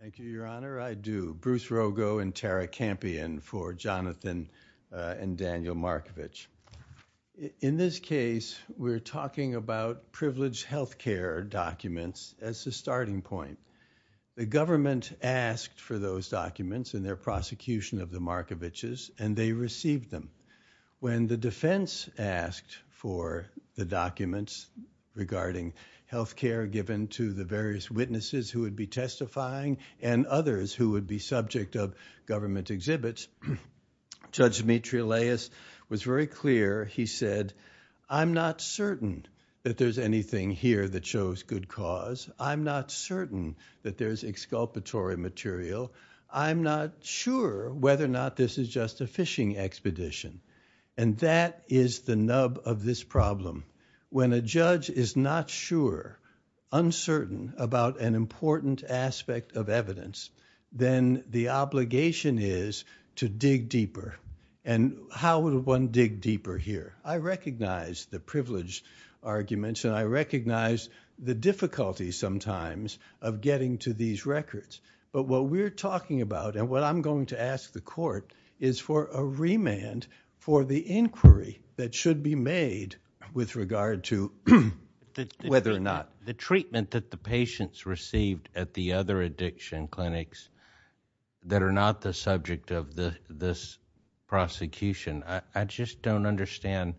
Thank you, Your Honor. I do. Bruce Rogo and Tara Campion for Jonathan and Daniel Markovich. In this case, we're talking about privileged health care documents as the starting point. The government asked for those documents in their prosecution of the Markoviches, and they received them. When the defense asked for the documents regarding health care given to the various witnesses who would be testifying and others who would be subject of government exhibits, Judge Dimitri Laius was very clear. He said, I'm not certain that there's anything here that shows good cause. I'm not certain that there's exculpatory material. I'm not sure whether or not this is just a fishing expedition. And that is the nub of this problem. When a judge is not sure, uncertain about an important aspect of evidence, then the obligation is to dig deeper. And how would one dig deeper here? I recognize the privileged arguments, and I recognize the difficulty sometimes of getting to these records. But what we're talking about and what I'm going to ask the court is for a remand for the inquiry that should be made with regard to whether or not the treatment that the patients received at the other addiction clinics that are not the subject of this prosecution. I just don't understand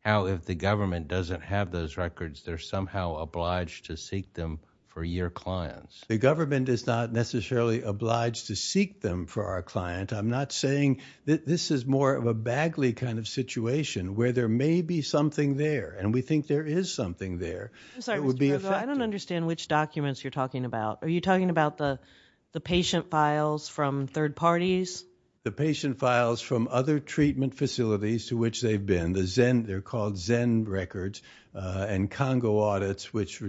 how, if the government doesn't have those records, they're somehow obliged to seek them for your clients. The government is not necessarily obliged to seek them for our client. I'm not saying that this is more of a baggly kind of situation where there may be something there. And we think there is something there. I don't understand which documents you're talking about. Are you talking about the patient files from third parties? The patient files from other treatment facilities to which they've been. They're called Zen records and Congo audits which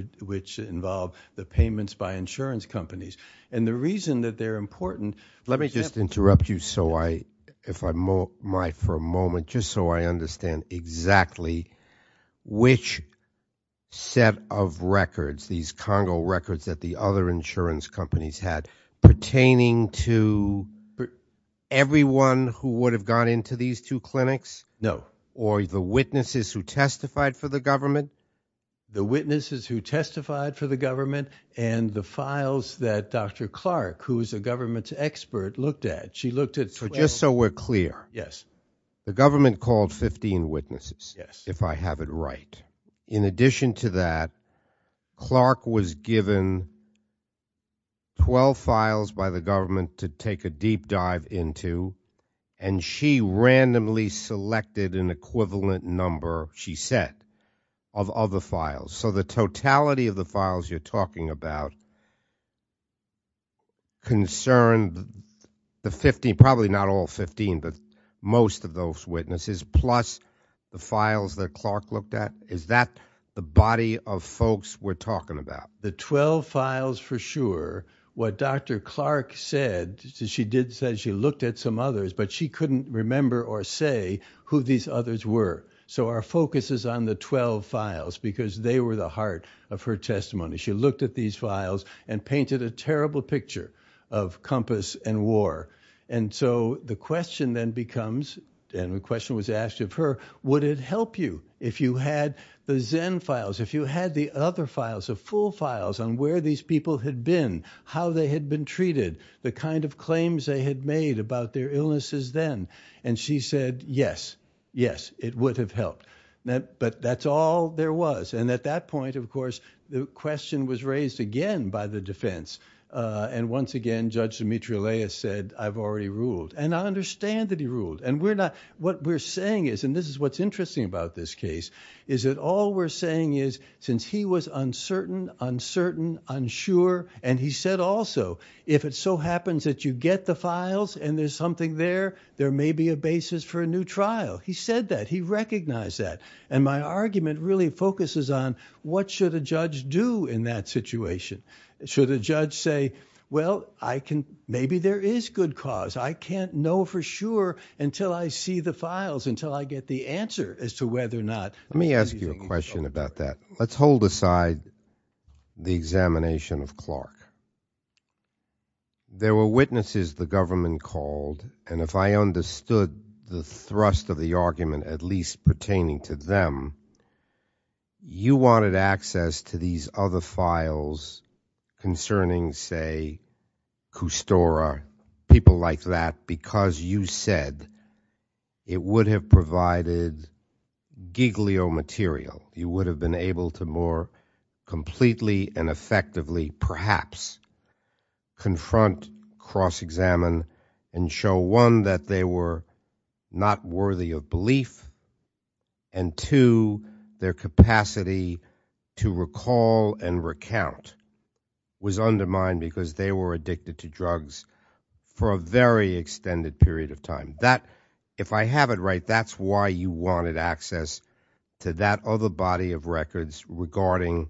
involve the payments by insurance companies. And the reason that they're important... Let me just interrupt you so I, if I might for a moment, just so I understand exactly which set of records, these Congo records that the other insurance companies had pertaining to everyone who would have gone into these two clinics? No. Or the witnesses who testified for the government? The witnesses who testified for the government and the files that Dr. Clark, who's a government expert, looked at. She looked at... So just so we're clear. Yes. The government called 15 witnesses. Yes. If I have it right. In addition to that, Clark was given 12 files by the government to take a deep dive into and she randomly selected an equivalent number, she said, of other files. So the totality of the files you're talking about is concerned the 15, probably not all 15, but most of those witnesses, plus the files that Clark looked at. Is that the body of folks we're talking about? The 12 files for sure. What Dr. Clark said, she did say she looked at some others, but she couldn't remember or say who these others were. So our focus is on the 12 files because they were the heart of her testimony. She looked at these files and painted a terrible picture of Compass and War. And so the question then becomes, and the question was asked of her, would it help you if you had the Zen files, if you had the other files, the full files on where these people had been, how they had been treated, the kind of claims they had made about their illnesses then? And she said, yes, yes, it would have helped. But that's all there was. And at that point, of course, the question was raised again by the defense. And once again, Judge Demetriou-Leah said, I've already ruled. And I understand that he ruled. And we're not, what we're saying is, and this is what's interesting about this case, is that all we're saying is, since he was uncertain, uncertain, unsure, and he said also, if it so happens that you get the files and there's something there, there may be a basis for a new trial. He said that. He recognized that. And my argument really focuses on what should a judge do in that situation? Should a judge say, well, I can, maybe there is good cause. I can't know for sure until I see the files, until I get the answer as to whether or not- Let me ask you a question about that. Let's hold aside the examination of Clark. There were witnesses the government called. And if I understood the thrust of the argument, at least pertaining to them, you wanted access to these other files concerning, say, Custora, people like that, because you said it would have provided giglio material. You would have been able to more completely and effectively, perhaps, confront, cross-examine, and show, one, that they were not worthy of belief, and two, their capacity to recall and recount was undermined because they were addicted to drugs for a very extended period of time. That, if I have it right, that's why you wanted access to that other body of records regarding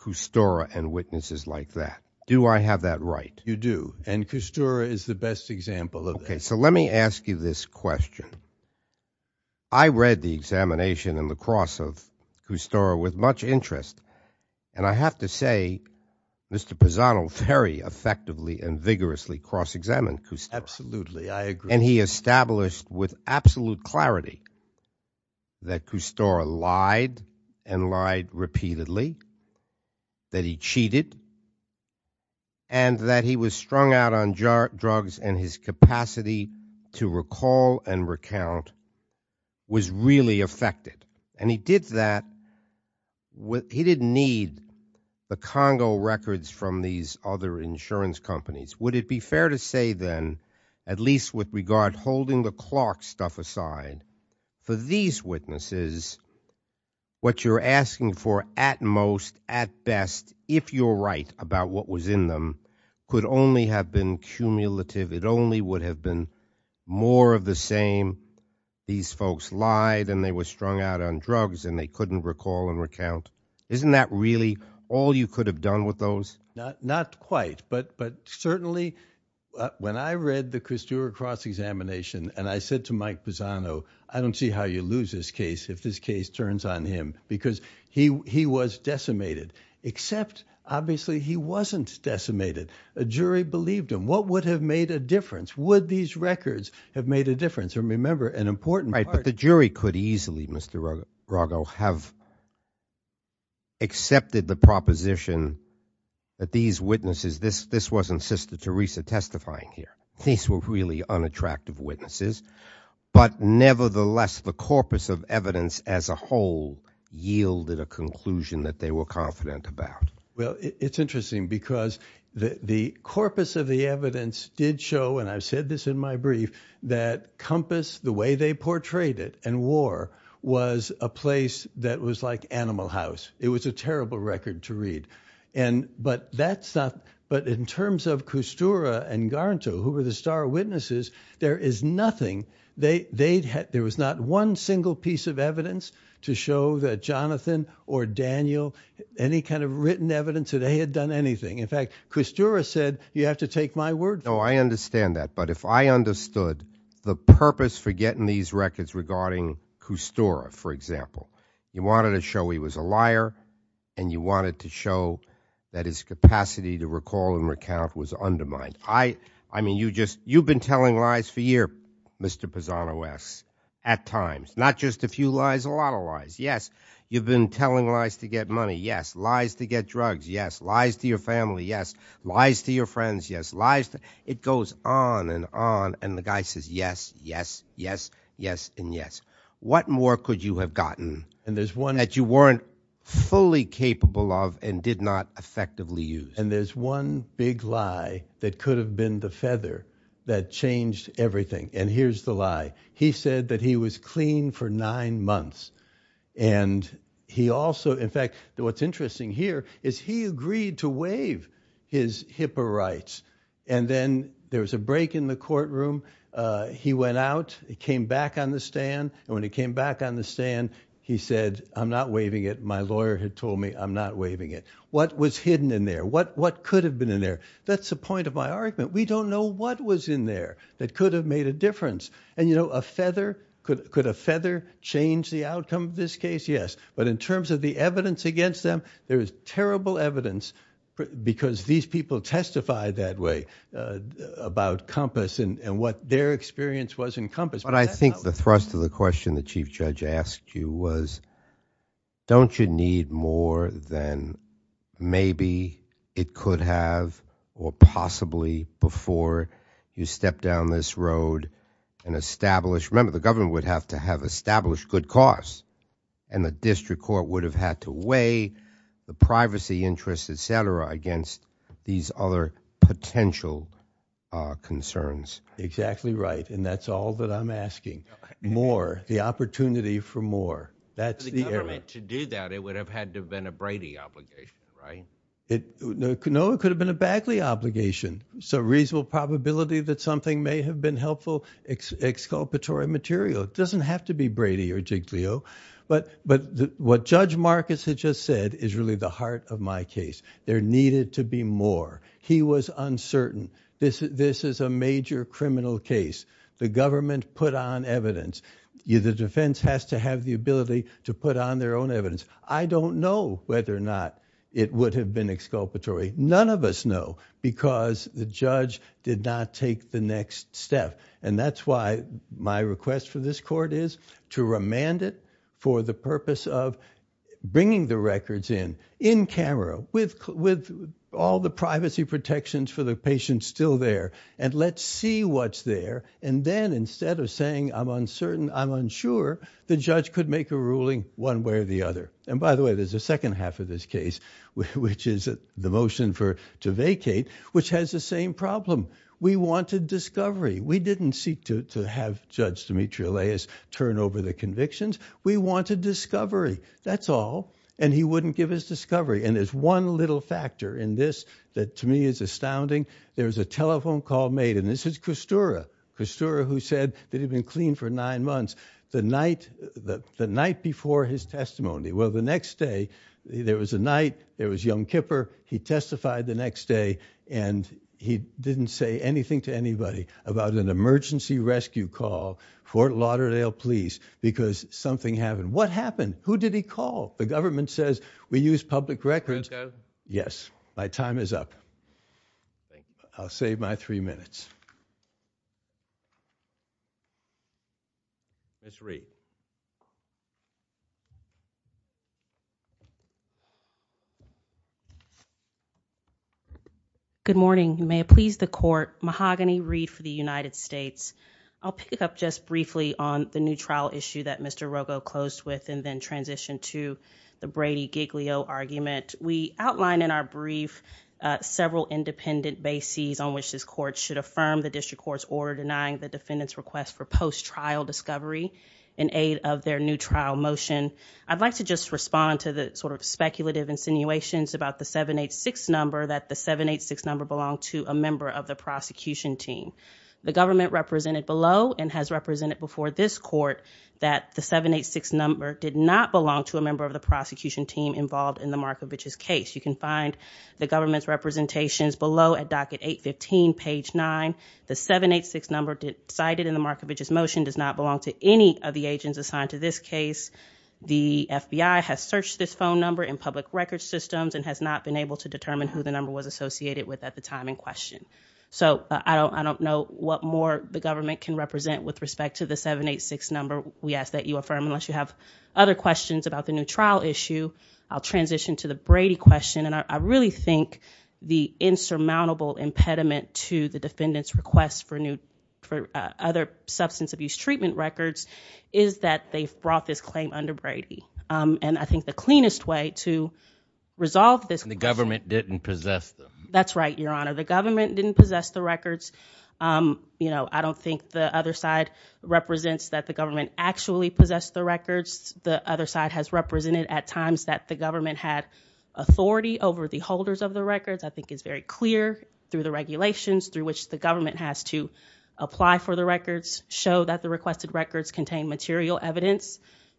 Custora and witnesses like that. Do I have that right? You do. And Custora is the best example of that. Okay. So let me ask you this question. I read the examination and the cross of Custora with much interest. And I have to say, Mr. Pisano very effectively and vigorously cross-examined Custora. Absolutely. I agree. And he established with absolute clarity that Custora lied and lied repeatedly, that he cheated, and that he was strung out on drugs and his capacity to recall and recount was really affected. And he did that, he didn't need the Congo records from these other insurance companies. Would it be fair to say then, at least with regard holding the Clark stuff aside, for these witnesses, what you're asking for at most, at best, if you're right about what was in them, could only have been cumulative, it only would have been more of the same, these folks lied and they were strung out on drugs and they couldn't recall and recount. Isn't that really all you could have done with those? Not quite, but certainly when I read the Custora cross-examination and I said to Mike Pisano, I don't see how you lose this case if this case turns on him, because he was decimated, except obviously he wasn't decimated. A jury believed him. What would have made a difference? Would these records have made a difference? And remember, an important part- These witnesses, this wasn't Sister Teresa testifying here, these were really unattractive witnesses, but nevertheless the corpus of evidence as a whole yielded a conclusion that they were confident about. Well, it's interesting because the corpus of the evidence did show, and I've said this in my brief, that Compass, the way they portrayed it, and war was a place that was like but in terms of Custora and Garnto, who were the star witnesses, there is nothing, there was not one single piece of evidence to show that Jonathan or Daniel, any kind of written evidence that they had done anything. In fact, Custora said, you have to take my word for it. No, I understand that, but if I understood the purpose for getting these records regarding Custora, for example, you wanted to show he was a liar and you wanted to show that his capacity to recall and recount was undermined. I mean, you just, you've been telling lies for years, Mr. Pisano asks, at times. Not just a few lies, a lot of lies, yes. You've been telling lies to get money, yes. Lies to get drugs, yes. Lies to your family, yes. Lies to your friends, yes. Lies it goes on and on and the guy says yes, yes, yes, yes, and yes. What more could you have gotten? And there's one that you weren't fully capable of and did not effectively use. And there's one big lie that could have been the feather that changed everything, and here's the lie. He said that he was clean for nine months and he also, in fact, what's interesting here is he agreed to waive his HIPAA rights and then there was a break in the courtroom. He went out, he came back on the stand, and when he came back on the stand he said, I'm not waiving it. My lawyer had told me I'm not waiving it. What was hidden in there? What could have been in there? That's the point of my argument. We don't know what was in there that could have made a difference. And you know, a feather, could a feather change the outcome of this case? Yes, but in terms of the evidence against them, there is people testify that way about Compass and what their experience was in Compass. But I think the thrust of the question the Chief Judge asked you was, don't you need more than maybe it could have or possibly before you step down this road and establish, remember the government would have to have established good cause, and the district court would have had to weigh the privacy interests, etc. against these other potential concerns. Exactly right, and that's all that I'm asking. More, the opportunity for more. That's the government to do that. It would have had to have been a Brady obligation, right? No, it could have been a Bagley obligation. So reasonable probability that something may have been helpful exculpatory material. It doesn't have to be Brady or Giglio, but what Judge Marcus had just said is really the heart of my case. There needed to be more. He was uncertain. This is a major criminal case. The government put on evidence. The defense has to have the ability to put on their own evidence. I don't know whether or not it would have been exculpatory. None of us know, because the judge did not take the next step. And that's why my request for this court is to remand it for the purpose of bringing the records in, in camera, with all the privacy protections for the patients still there, and let's see what's there. And then instead of saying I'm uncertain, I'm unsure, the judge could make a ruling one way or the other. And by the way, there's a second half of this case, which is the motion for to vacate, which has the same problem. We wanted discovery. We didn't seek to have Judge Demetrio Leyes turn over the convictions. We wanted discovery. That's all. And he wouldn't give us discovery. And there's one little factor in this that to me is astounding. There was a telephone call made, and this is Custura. Custura, who said that he'd been clean for nine months. The night before his testimony, well, the next day, there was a night, there was young Kipper. He testified the next day, and he didn't say anything to anybody about an emergency rescue call, Fort Lauderdale Police, because something happened. What happened? Who did he call? The government says, we use public records. Yes, my time is up. I'll save my three minutes. Ms. Reed. Good morning. May it please the court. Mahogany Reed for the United States. I'll pick up just briefly on the new trial issue that Mr. Rogo closed with and then transition to the Brady Giglio argument. We outline in our brief several independent bases on which this the district court's order denying the defendant's request for post-trial discovery in aid of their new trial motion. I'd like to just respond to the sort of speculative insinuations about the 786 number, that the 786 number belonged to a member of the prosecution team. The government represented below and has represented before this court that the 786 number did not belong to a member of the prosecution team involved in the Markovich's case. You can find the government's representations below at docket 815 page 9. The 786 number cited in the Markovich's motion does not belong to any of the agents assigned to this case. The FBI has searched this phone number in public records systems and has not been able to determine who the number was associated with at the time in question. So I don't know what more the government can represent with respect to the 786 number. We ask that you affirm unless you have other questions about the new trial issue. I'll the insurmountable impediment to the defendant's request for new for other substance abuse treatment records is that they've brought this claim under Brady. And I think the cleanest way to resolve this. The government didn't possess them. That's right, your honor. The government didn't possess the records. You know, I don't think the other side represents that the government actually possessed the records. The other side has represented at times that the government had authority over the holders of the records. I think it's very clear through the regulations through which the government has to apply for the records, show that the requested records contain material evidence,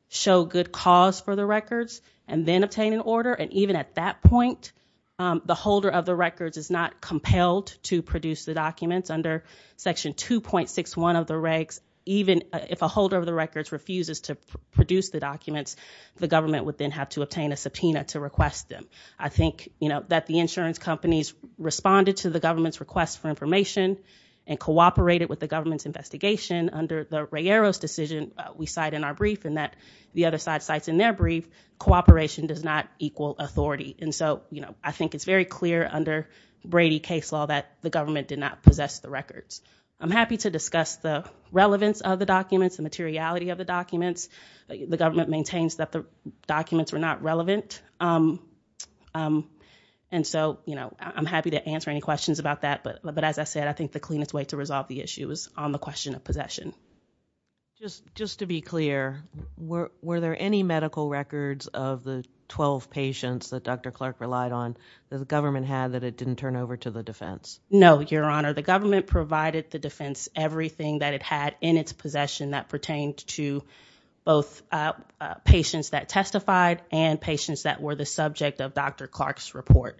show good cause for the records, and then obtain an order. And even at that point, the holder of the records is not compelled to produce the documents under section 2.61 of the regs. Even if a holder of the records refuses to produce the documents, the government would then have to obtain a subpoena to request them. I think, you know, that the insurance companies responded to the government's request for information and cooperated with the government's investigation under the Ray Eros decision we cite in our brief and that the other side cites in their brief, cooperation does not equal authority. And so, you know, I think it's very clear under Brady case law that the government did not possess the records. I'm happy to discuss the relevance of the documents and materiality of the documents. The government maintains that the documents were not relevant. And so, you know, I'm happy to answer any questions about that. But as I said, I think the cleanest way to resolve the issue is on the question of possession. Just to be clear, were there any medical records of the 12 patients that Dr. Clark relied on that the government had that it didn't turn over to the defense? No, Your Honor. The government provided the defense everything that it had in its possession that pertained to both patients that testified and patients that were the subject of Dr. Clark's report.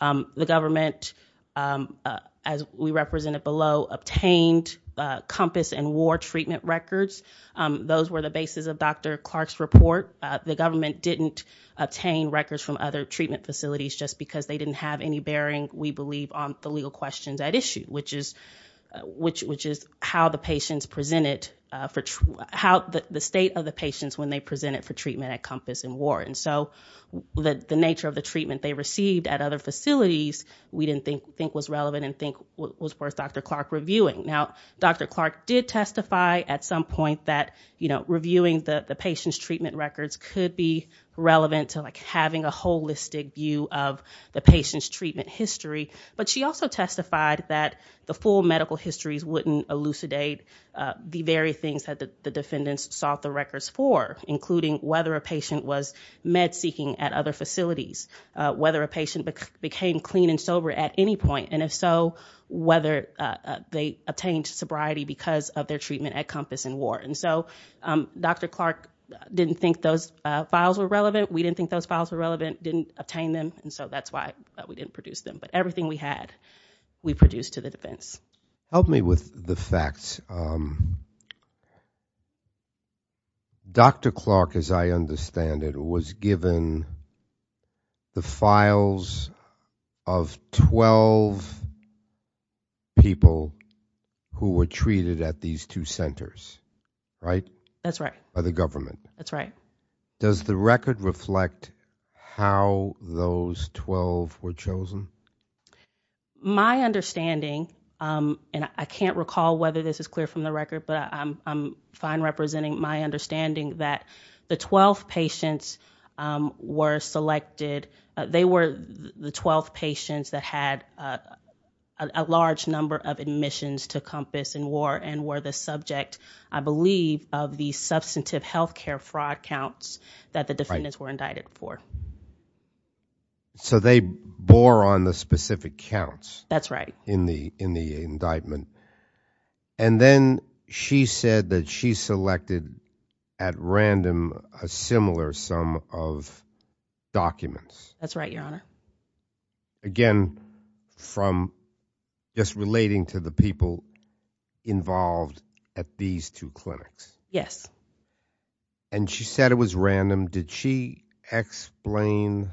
The government, as we represented below, obtained COMPASS and WAR treatment records. Those were the basis of Dr. Clark's report. The government didn't obtain records from other treatment facilities just because they didn't have any bearing, we believe, on the legal questions at issue, which is how the state of the patients when they presented for treatment at COMPASS and WAR. And so the nature of the treatment they received at other facilities we didn't think was relevant and think was worth Dr. Clark reviewing. Now, Dr. Clark did testify at some point that reviewing the patient's treatment records could be relevant to having a holistic view of the patient's treatment history, but she also testified that the full medical histories wouldn't elucidate the very things that the defendants sought the records for, including whether a patient was med-seeking at other facilities, whether a patient became clean and sober at any point, and if so, whether they obtained sobriety because of their treatment at COMPASS and WAR. And so Dr. Clark didn't think those files were relevant, we didn't think those files were relevant, didn't obtain them, and so that's why we didn't produce them. But everything we had we produced to the defense. Help me with the facts. Dr. Clark, as I understand it, was given the files of 12 people who were treated at these two centers, right? That's right. By the government. That's right. Does the record reflect how those 12 were chosen? My understanding, and I can't recall whether this is clear from the record, but I'm fine representing my understanding that the 12 patients were selected, they were the 12 patients that had a large number of admissions to COMPASS and WAR and were the subject, I believe, of the that the defendants were indicted for. So they bore on the specific counts. That's right. In the indictment. And then she said that she selected at random a similar sum of documents. That's right, your honor. Again, from just relating to the people involved at these two clinics. Yes. And she said it was random. Did she explain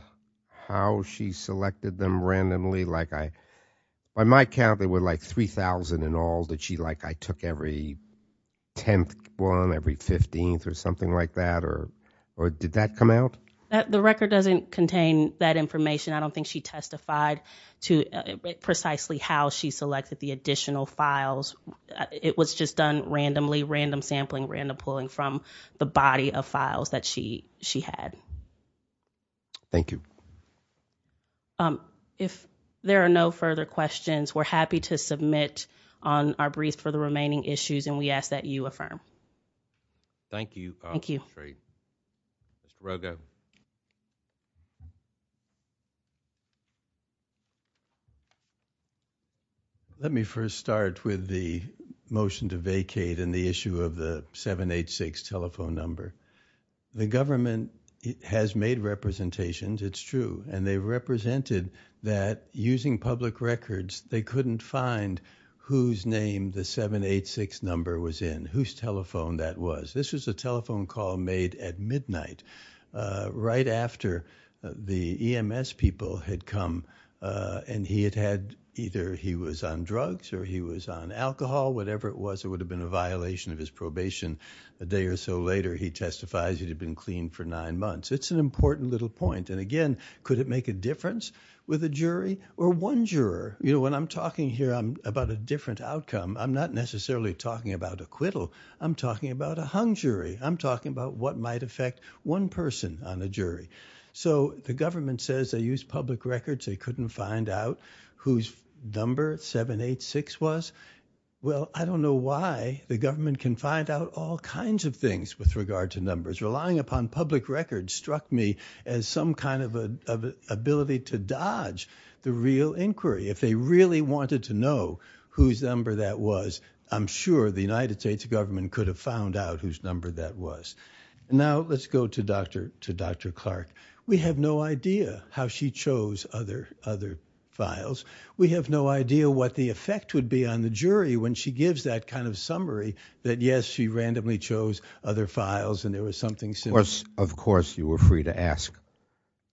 how she selected them randomly? By my count, there were like 3,000 in all that I took every 10th one, every 15th or something like that. Or did that come out? The record doesn't contain that information. I don't think she testified to precisely how she selected the additional files. It was just done randomly, random sampling, random pulling from the body of files that she had. Thank you. If there are no further questions, we're happy to submit on our brief for the remaining issues. And we ask that you affirm. Thank you. Thank you. Great. Let me first start with the motion to vacate and the issue of the 786 telephone number. The government has made representations. It's true. And they represented that using public records, they couldn't find whose name the 786 number was in, whose telephone that was. This was a telephone call made at midnight, right after the EMS people had come. And he had had either he was on drugs or he was on alcohol, whatever it was. It would have been a violation of his probation. A day or so later, he testifies he had been clean for nine months. It's an important little point. And again, could it make a difference with a jury or one juror? You know, when I'm talking here, I'm about a different outcome. I'm not necessarily talking about acquittal. I'm talking about a hung jury. I'm talking about what might affect one person on a jury. So the government says they use public records. They couldn't find out whose number 786 was. Well, I don't know why the government can find out all kinds of things with regard to numbers. Relying upon public records struck me as some kind of ability to dodge the real inquiry. If they really wanted to know whose number that was, I'm sure the United States government could have found out whose number that was. Now, let's go to Dr. Clark. We have no idea how she chose other files. We have no idea what the effect would be on the jury when she gives that kind of summary that yes, she randomly chose other files and there was something similar. Of course, you were free to ask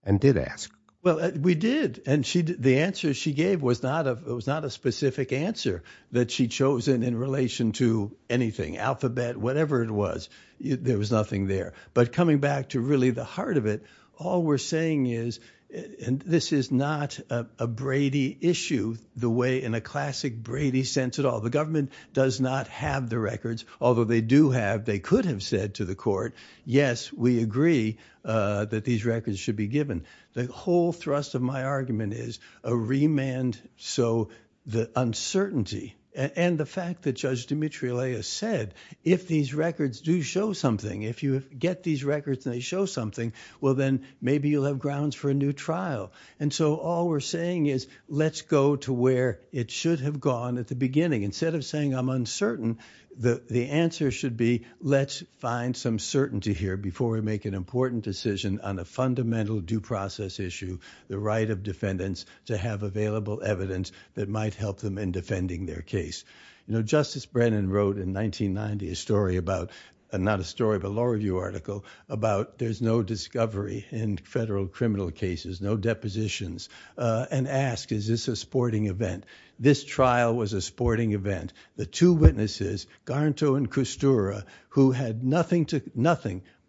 and did ask. Well, we did. And the answer she gave was not a specific answer that she chosen in relation to anything, alphabet, whatever it was. There was nothing there. But coming back to really the heart of it, all we're saying is, and this is not a Brady issue the way in a classic Brady sense at all. The government does not have the records. Although they do have, they could have said to the court, yes, we agree that these records should be given. The whole thrust of my argument is a remand. So the uncertainty and the fact that Judge Dimitriles said, if these records do show something, if you get these records and they show something, well, then maybe you'll have grounds for a new trial. And so all we're saying is, let's go to where it should have gone at the beginning. Instead of saying, I'm uncertain, the answer should be, let's find some certainty here before we make an important decision on a fundamental due process issue, the right of defendants to have available evidence that might help them in defending their case. You know, Justice Brennan wrote in 1990 a story about, not a story, but a law review article about there's no discovery in federal criminal cases, no depositions, and asked, is this a sporting event? This trial was a sporting event. The two witnesses, Garnto and Kustura, who had nothing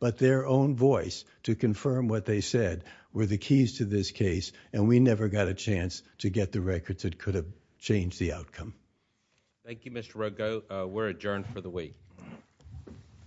but their own voice to confirm what they said, were the keys to this case, and we never got a chance to get the records that could have changed the outcome. Thank you, Mr. Rogge. We're adjourned for the week.